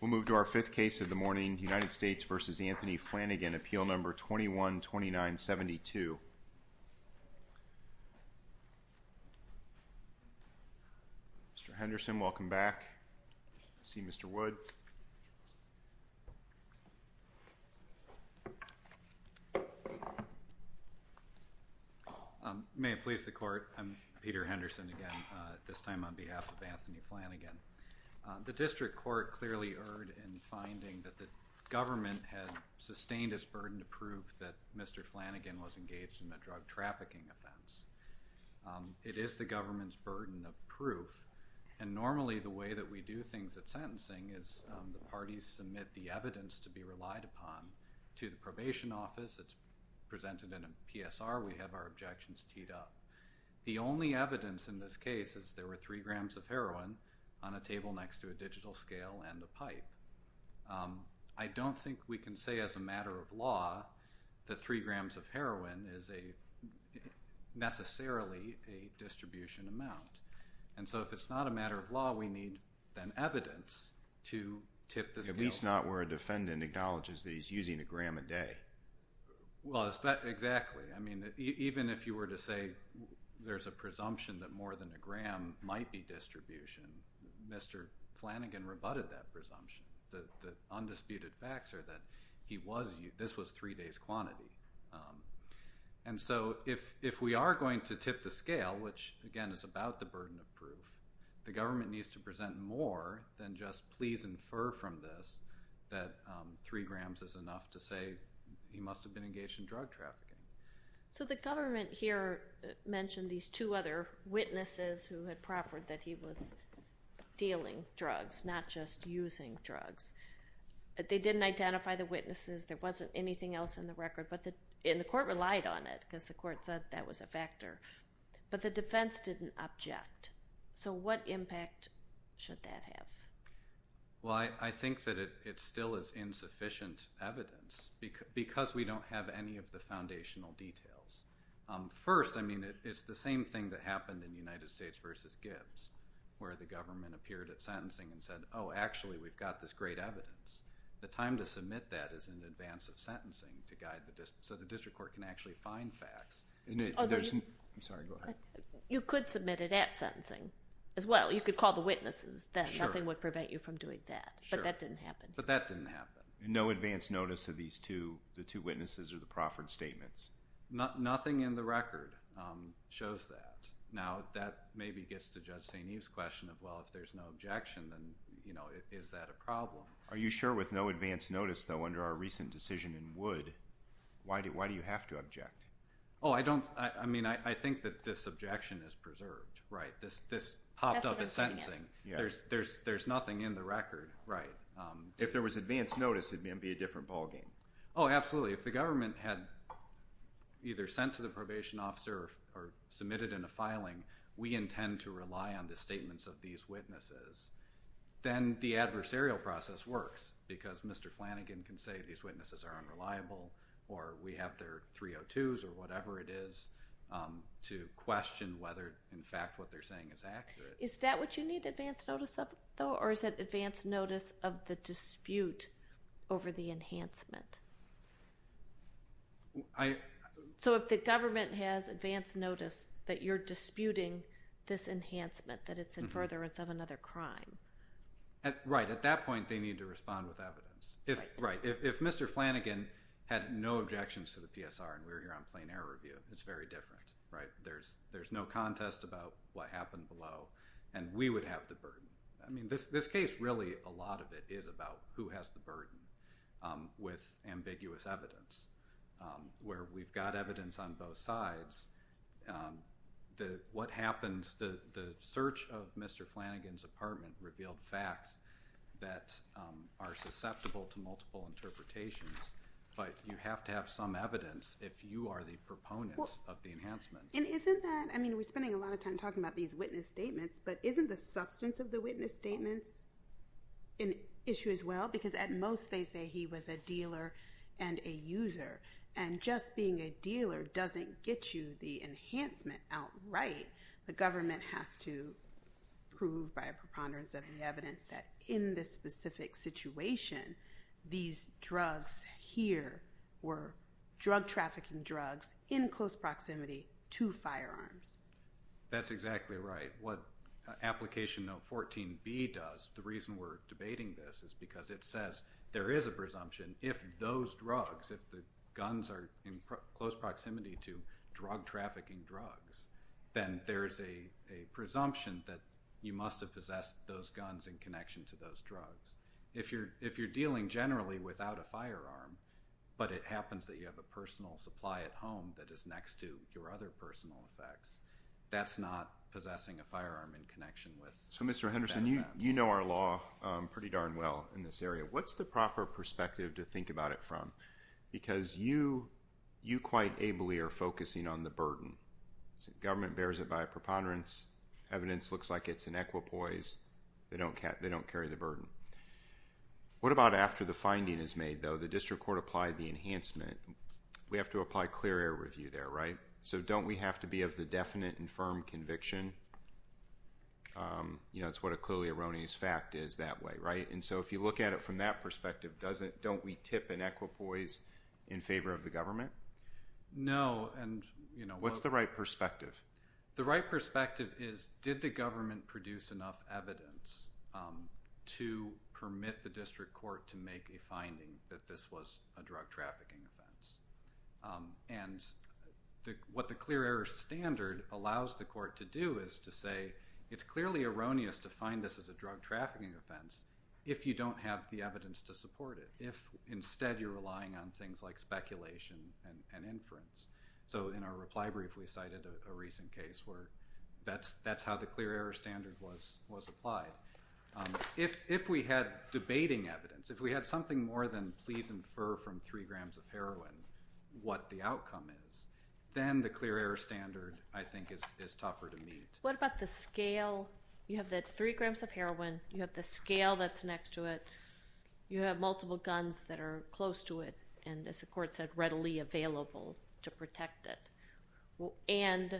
We'll move to our fifth case of the morning, United States v. Anthony Flanagan, appeal number 212972. Mr. Henderson, welcome back. I see Mr. Wood. May it please the court, I'm Peter Henderson again, this time on behalf of the District Court, clearly erred in finding that the government had sustained its burden to prove that Mr. Flanagan was engaged in a drug trafficking offense. It is the government's burden of proof and normally the way that we do things at sentencing is the parties submit the evidence to be relied upon to the probation office, it's presented in a PSR, we have our objections teed up. The only evidence in this case is there were three grams of heroin on a table next to a digital scale and a pipe. I don't think we can say as a matter of law that three grams of heroin is a necessarily a distribution amount. And so if it's not a matter of law, we need then evidence to tip the scale. At least not where a defendant acknowledges that he's using a gram a day. Well, exactly. I mean, even if you were to say there's a presumption that more than a gram might be distribution, Mr. Flanagan rebutted that presumption. The undisputed facts are that this was three days quantity. And so if we are going to tip the scale, which again is about the burden of proof, the government needs to present more than just please infer from this that three grams is enough to say he must have been engaged in drug trafficking. So the government here mentioned these two other witnesses who had proffered that he was dealing drugs, not just using drugs. They didn't identify the witnesses. There wasn't anything else in the record. And the court relied on it because the court said that was a factor. But the defense didn't object. So what impact should that have? Well, I think that it still is insufficient evidence. Because we don't have any of the foundational details. First, I mean, it's the same thing that happened in the United States versus Gibbs, where the government appeared at sentencing and said, oh, actually we've got this great evidence. The time to submit that is in advance of sentencing to guide the... so the district court can actually find facts. I'm sorry. Go ahead. You could submit it at sentencing as well. You could call the witnesses then. Sure. Nothing would prevent you from doing that. Sure. But that didn't happen. But that didn't happen. No advance notice of these two, the two witnesses or the proffered statements? Nothing in the record shows that. Now, that maybe gets to Judge St. Eve's question of, well, if there's no objection, then is that a problem? Are you sure with no advance notice, though, under our recent decision in Wood, why do you have to object? Oh, I don't... I mean, I think that this objection is preserved, right? This popped up at sentencing. That's what I'm saying. Yeah. There's nothing in the record, right? If there was advance notice, it would be a different ball game. Oh, absolutely. If the government had either sent to the probation officer or submitted in a filing, we intend to rely on the statements of these witnesses, then the adversarial process works because Mr. Flanagan can say these witnesses are unreliable or we have their 302s or whatever it is to question whether, in fact, what they're saying is accurate. Is that what you need, advance notice of, though, or is it advance notice of the dispute over the enhancement? So if the government has advance notice that you're disputing this enhancement, that it's in furtherance of another crime... Right. At that point, they need to respond with evidence. Right. If Mr. Flanagan had no objections to the PSR and we're here on plain error review, it's very different, right? There's no contest about what happened below and we would have the burden. I mean, this case, really, a lot of it is about who has the burden with ambiguous evidence where we've got evidence on both sides. What happens, the search of Mr. Flanagan's apartment revealed facts that are susceptible to multiple interpretations, but you have to have some evidence if you are the proponents of the enhancement. Well, and isn't that... I mean, we're spending a lot of time talking about these witness statements, but isn't the substance of the witness statements an issue as well? Because at most, they say he was a dealer and a user. And just being a dealer doesn't get you the enhancement outright. The government has to prove by a preponderance of the evidence that in this specific situation, these drugs here were drug trafficking drugs in close proximity to firearms. That's exactly right. What Application No. 14B does, the reason we're debating this is because it says there is a presumption if those drugs, if the guns are in close proximity to drug trafficking drugs, then there's a presumption that you must have possessed those guns in connection to those drugs. If you're dealing generally without a firearm, but it happens that you have a personal supply at home that is next to your other personal effects, that's not possessing a firearm in connection with... So, Mr. Henderson, you know our law pretty darn well in this area. What's the proper perspective to think about it from? Because you quite ably are focusing on the burden. Government bears it by a preponderance. Evidence looks like it's an equipoise. They don't carry the burden. What about after the finding is made, though, the district court applied the enhancement, we have to apply clear air review there, right? So don't we have to be of the definite and firm conviction? You know, it's what a clearly erroneous fact is that way, right? And so if you look at it from that perspective, don't we tip an equipoise in favor of the government? No. And, you know... What's the right perspective? The right perspective is did the government produce enough evidence to permit the district court to make a finding that this was a drug trafficking offense? And what the clear air standard allows the court to do is to say it's clearly erroneous to find this as a drug trafficking offense if you don't have the evidence to support it. If instead you're relying on things like speculation and inference. So in our reply brief, we cited a recent case where that's how the clear air standard was applied. If we had debating evidence, if we had something more than please infer from three grams of heroin what the outcome is, then the clear air standard, I think, is tougher to meet. What about the scale? You have that three grams of heroin, you have the scale that's next to it, you have multiple guns that are close to it and, as the court said, readily available to protect it. And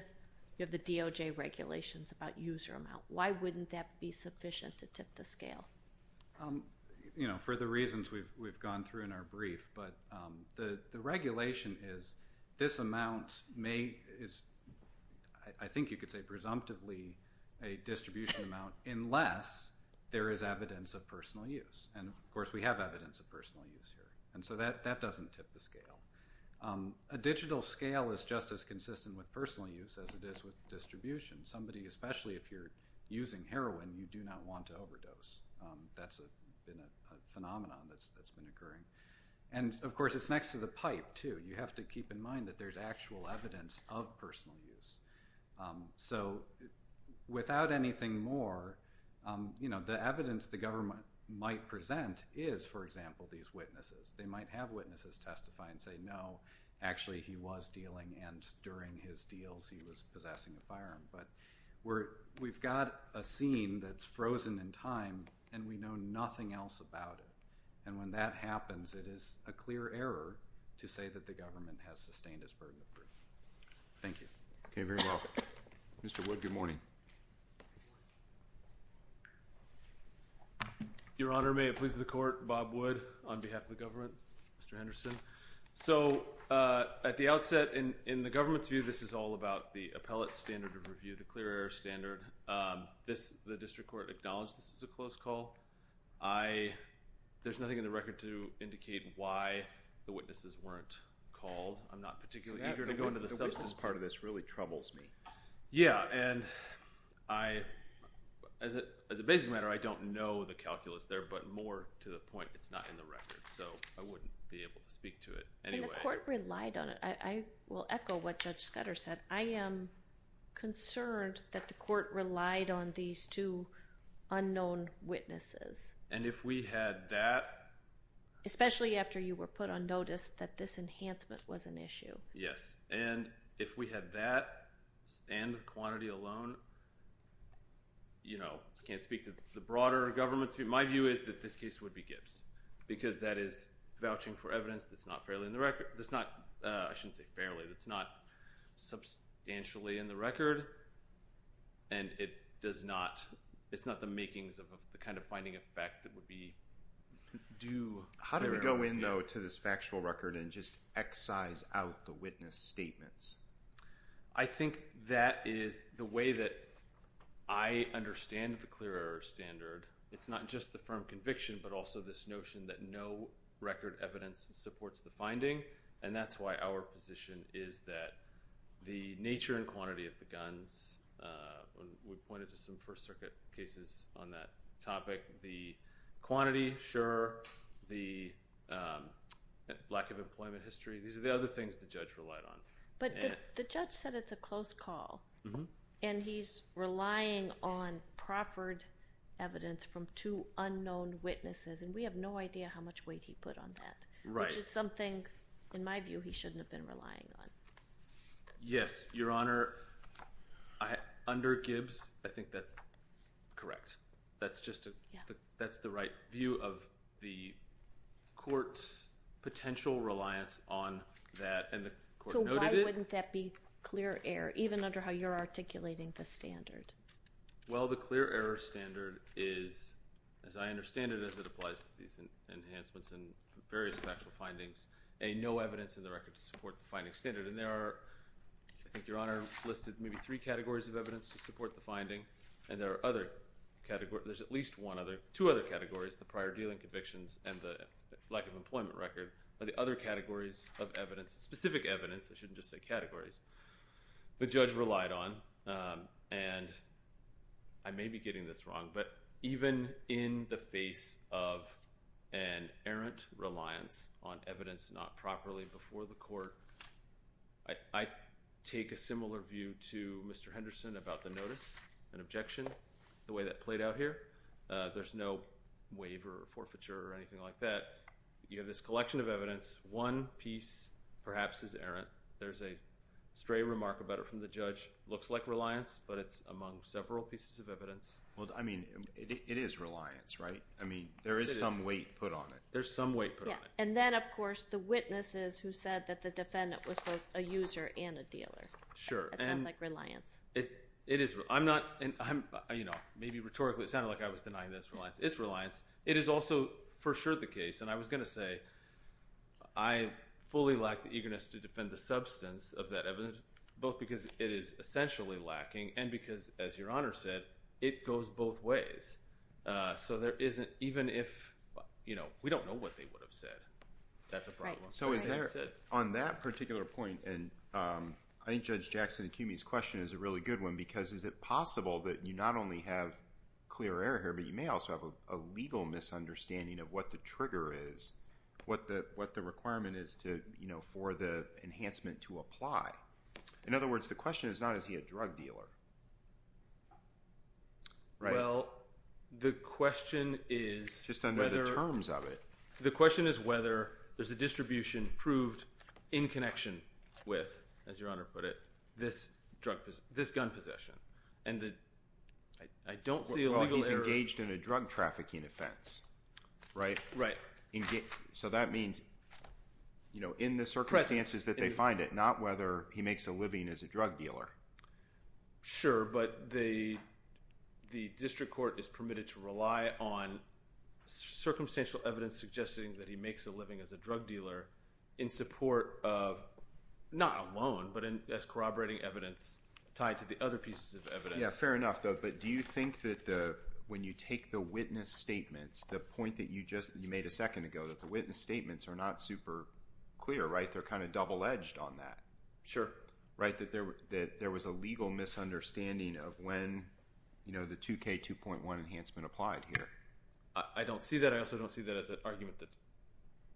you have the DOJ regulations about user amount. Why wouldn't that be sufficient to tip the scale? For the reasons we've gone through in our brief, but the regulation is this amount may is, I think you could say presumptively, a distribution amount unless there is evidence of personal use. And, of course, we have evidence of personal use here. And so that doesn't tip the scale. A digital scale is just as consistent with personal use as it is with distribution. Somebody, especially if you're using heroin, you do not want to overdose. That's been a phenomenon that's been occurring. And, of course, it's next to the pipe, too. You have to keep in mind that there's actual evidence of personal use. So without anything more, the evidence the government might present is, for example, these witnesses. They might have witnesses testify and say, no, actually he was dealing and during his time in the firearm. But we've got a scene that's frozen in time, and we know nothing else about it. And when that happens, it is a clear error to say that the government has sustained its burden of proof. Thank you. Okay. Very well. Mr. Wood, good morning. Your Honor, may it please the Court, Bob Wood on behalf of the government, Mr. Henderson. So at the outset, in the government's view, this is all about the appellate standard of review, the clear error standard. The district court acknowledged this is a close call. There's nothing in the record to indicate why the witnesses weren't called. I'm not particularly eager to go into the substance. The witness part of this really troubles me. Yeah. And as a basic matter, I don't know the calculus there, but more to the point, it's not in the record. So I wouldn't be able to speak to it anyway. And the court relied on it. I will echo what Judge Scudder said. I am concerned that the court relied on these two unknown witnesses. And if we had that... Especially after you were put on notice that this enhancement was an issue. Yes. And if we had that and the quantity alone, you know, I can't speak to the broader government's view. My view is that this case would be Gibbs because that is vouching for evidence that's not fairly in the record. That's not... I shouldn't say fairly. That's not substantially in the record. And it does not... It's not the makings of the kind of finding of fact that would be due. How do we go in, though, to this factual record and just excise out the witness statements? I think that is the way that I understand the clear error standard. It's not just the firm conviction, but also this notion that no record evidence supports the finding. And that's why our position is that the nature and quantity of the guns, we pointed to some First Circuit cases on that topic, the quantity, sure. The lack of employment history, these are the other things the judge relied on. But the judge said it's a close call. And he's relying on proffered evidence from two unknown witnesses, and we have no idea how much weight he put on that, which is something, in my view, he shouldn't have been relying on. Yes, Your Honor. Under Gibbs, I think that's correct. That's just... That's the right view of the court's potential reliance on that, and the court noted it. So why wouldn't that be clear error, even under how you're articulating the standard? Well, the clear error standard is, as I understand it, as it applies to these enhancements and various factual findings, a no evidence in the record to support the finding standard. And there are, I think Your Honor listed maybe three categories of evidence to support the finding, and there are other categories, there's at least two other categories, the prior dealing convictions and the lack of employment record, are the other categories of evidence, specific evidence, I shouldn't just say categories, the judge relied on. And I may be getting this wrong, but even in the face of an errant reliance on evidence not properly before the court, I take a similar view to Mr. Henderson about the notice and objection, the way that played out here. There's no waiver or forfeiture or anything like that. You have this collection of evidence, one piece perhaps is errant, there's a stray remark about it from the judge, looks like reliance, but it's among several pieces of evidence. Well, I mean, it is reliance, right? I mean, there is some weight put on it. There's some weight put on it. Yeah, and then of course the witnesses who said that the defendant was both a user and a dealer. Sure. That sounds like reliance. It is. I'm not, you know, maybe rhetorically it sounded like I was denying this, but it's reliance. It is also for sure the case, and I was going to say, I fully lack the eagerness to defend the substance of that evidence, both because it is essentially lacking, and because as Your Honor said, it goes both ways. So there isn't, even if, you know, we don't know what they would have said, that's a problem. So is there, on that particular point, and I think Judge Jackson and Cumey's question is a really good one, because is it possible that you not only have clear error here, but you may also have a legal misunderstanding of what the trigger is, what the requirement is to, you know, for the enhancement to apply. In other words, the question is not, is he a drug dealer, right? Well, the question is whether… Just under the terms of it. The question is whether there's a distribution proved in connection with, as Your Honor put it, this drug, this gun possession, and the, I don't see a legal error… Engaged in a drug trafficking offense, right? Right. So that means, you know, in the circumstances that they find it, not whether he makes a living as a drug dealer. Sure, but the district court is permitted to rely on circumstantial evidence suggesting that he makes a living as a drug dealer in support of, not alone, but as corroborating evidence tied to the other pieces of evidence. Yeah, fair enough though, but do you think that the, when you take the witness statements, the point that you just, you made a second ago, that the witness statements are not super clear, right? They're kind of double-edged on that. Sure. Right? That there was a legal misunderstanding of when, you know, the 2K2.1 enhancement applied here. I don't see that. I also don't see that as an argument that's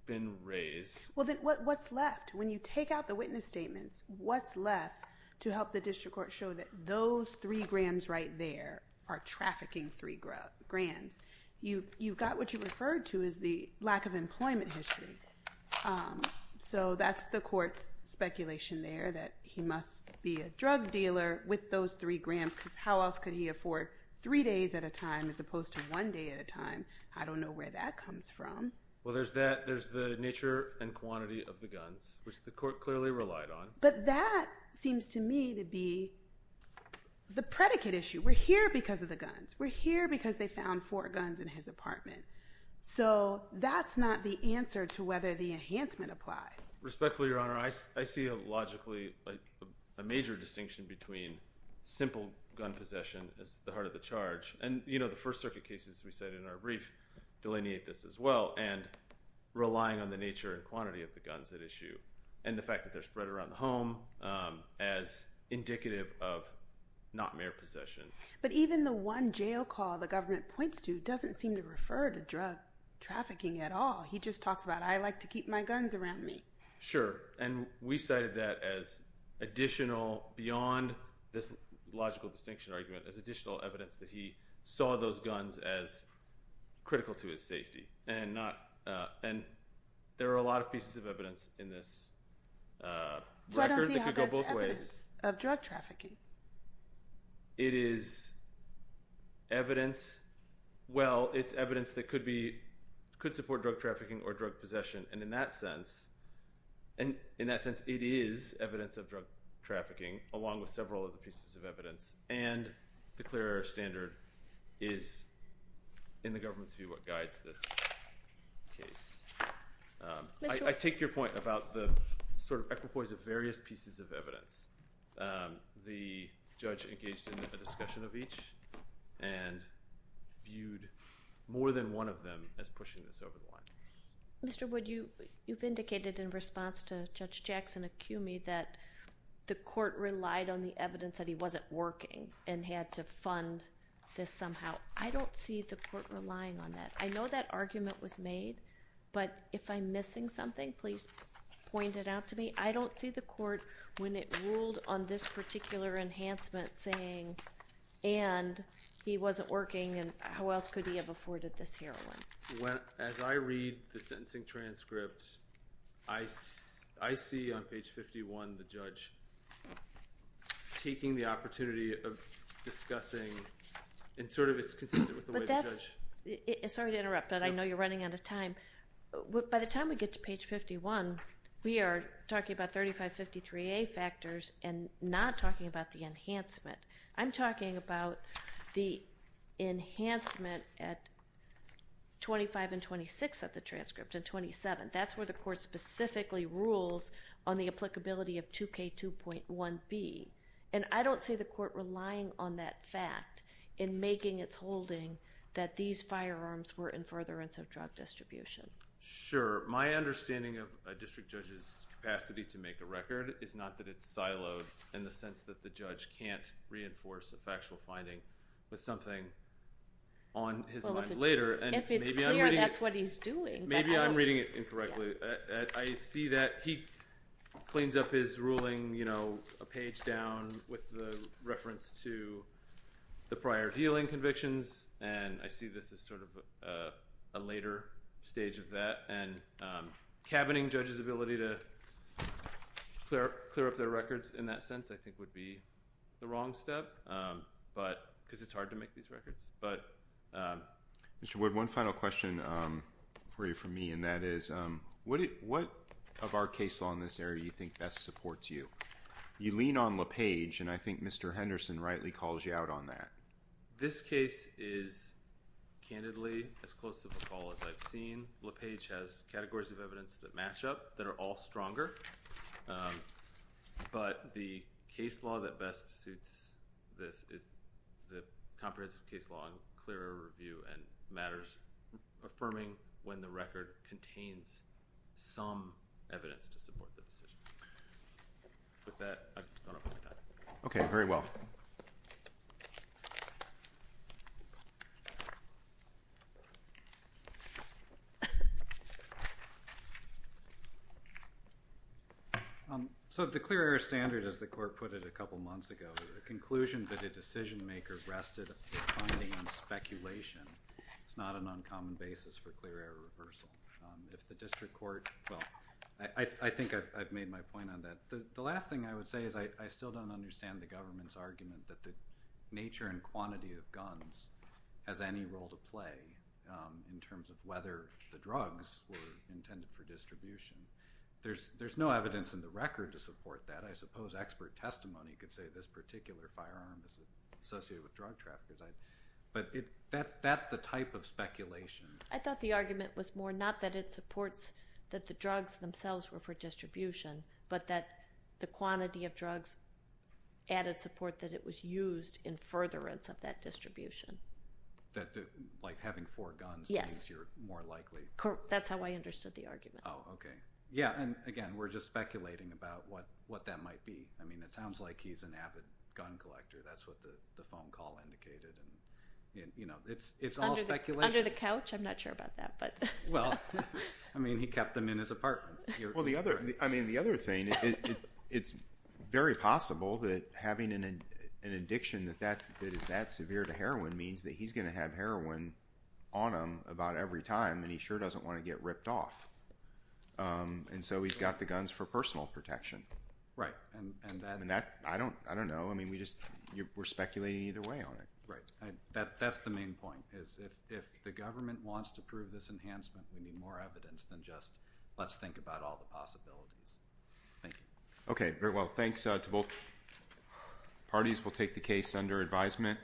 been raised. Well, then what's left? When you take out the witness statements, what's left to help the district court show that those three grams right there are trafficking three grams. You've got what you referred to as the lack of employment history. So that's the court's speculation there, that he must be a drug dealer with those three grams because how else could he afford three days at a time as opposed to one day at a time? I don't know where that comes from. Well, there's that, there's the nature and quantity of the guns, which the court clearly relied on. But that seems to me to be the predicate issue. We're here because of the guns. We're here because they found four guns in his apartment. So that's not the answer to whether the enhancement applies. Respectfully, Your Honor, I see a logically, a major distinction between simple gun possession as the heart of the charge. And, you know, the First Circuit cases we said in our brief delineate this as well. And relying on the nature and quantity of the guns at issue and the fact that they're spread around the home as indicative of not mere possession. But even the one jail call the government points to doesn't seem to refer to drug trafficking at all. He just talks about, I like to keep my guns around me. Sure. And we cited that as additional, beyond this logical distinction argument, as additional evidence that he saw those guns as critical to his safety. And there are a lot of pieces of evidence in this record that could go both ways. Why don't you have it as evidence of drug trafficking? It is evidence, well, it's evidence that could support drug trafficking or drug possession. And in that sense, it is evidence of drug trafficking, along with several other pieces of evidence. And the clear air standard is, in the government's view, what guides this case. I take your point about the sort of equipoise of various pieces of evidence. The judge engaged in a discussion of each and viewed more than one of them as pushing this over the line. Mr. Wood, you've indicated in response to Judge Jackson a cue me that the court relied on the evidence that he wasn't working and had to fund this somehow. I don't see the court relying on that. I know that argument was made, but if I'm missing something, please point it out to me. I don't see the court, when it ruled on this particular enhancement, saying, and he wasn't working and how else could he have afforded this heroin? As I read the sentencing transcript, I see on page 51 the judge taking the opportunity of discussing, and sort of it's consistent with the way the judge... Sorry to interrupt, but I know you're running out of time. By the time we get to page 51, we are talking about 3553A factors and not talking about the enhancement. I'm talking about the enhancement at 25 and 26 of the transcript and 27. That's where the court specifically rules on the applicability of 2K2.1B, and I don't see the court relying on that fact in making its holding that these firearms were in furtherance of drug distribution. Sure. My understanding of a district judge's capacity to make a record is not that it's siloed in the sense that the judge can't reinforce a factual finding with something on his mind later. If it's clear that's what he's doing. Maybe I'm reading it incorrectly. I see that he cleans up his ruling a page down with the reference to the prior dealing convictions, and I see this as sort of a later stage of that, and cabining judge's ability to clear up their records in that sense, I think, would be the wrong step because it's hard to make these records. One final question for you from me, and that is what of our case law in this area you think best supports you? You lean on LePage, and I think Mr. Henderson rightly calls you out on that. This case is, candidly, as close to LePage as I've seen. LePage has categories of evidence that match up, that are all stronger, but the case law that best suits this is the comprehensive case law and clearer review and matters affirming when the record contains some evidence to support the decision. With that, I just want to open it up. Okay. Very well. Thank you. So the clear error standard, as the court put it a couple months ago, the conclusion that a decision maker rested on speculation is not an uncommon basis for clear error reversal. If the district court, well, I think I've made my point on that. The last thing I would say is I still don't understand the government's argument that the nature and quantity of guns has any role to play in terms of whether the drugs were intended for distribution. There's no evidence in the record to support that. I suppose expert testimony could say this particular firearm is associated with drug trafficking, but that's the type of speculation. I thought the argument was more not that it supports that the drugs themselves were for use in furtherance of that distribution. Like having four guns means you're more likely? Yes. That's how I understood the argument. Oh, okay. Yeah, and again, we're just speculating about what that might be. I mean, it sounds like he's an avid gun collector. That's what the phone call indicated. It's all speculation. Under the couch? I'm not sure about that. Well, I mean, he kept them in his apartment. Well, I mean, the other thing, it's very possible that having an addiction that is that severe to heroin means that he's going to have heroin on him about every time, and he sure doesn't want to get ripped off. And so he's got the guns for personal protection. Right. And that? I don't know. I mean, we're speculating either way on it. Right. That's the main point, is if the government wants to prove this enhancement, we need more about all the possibilities. Thank you. Okay. Very well. Thanks to both parties. We'll take the case under advisement.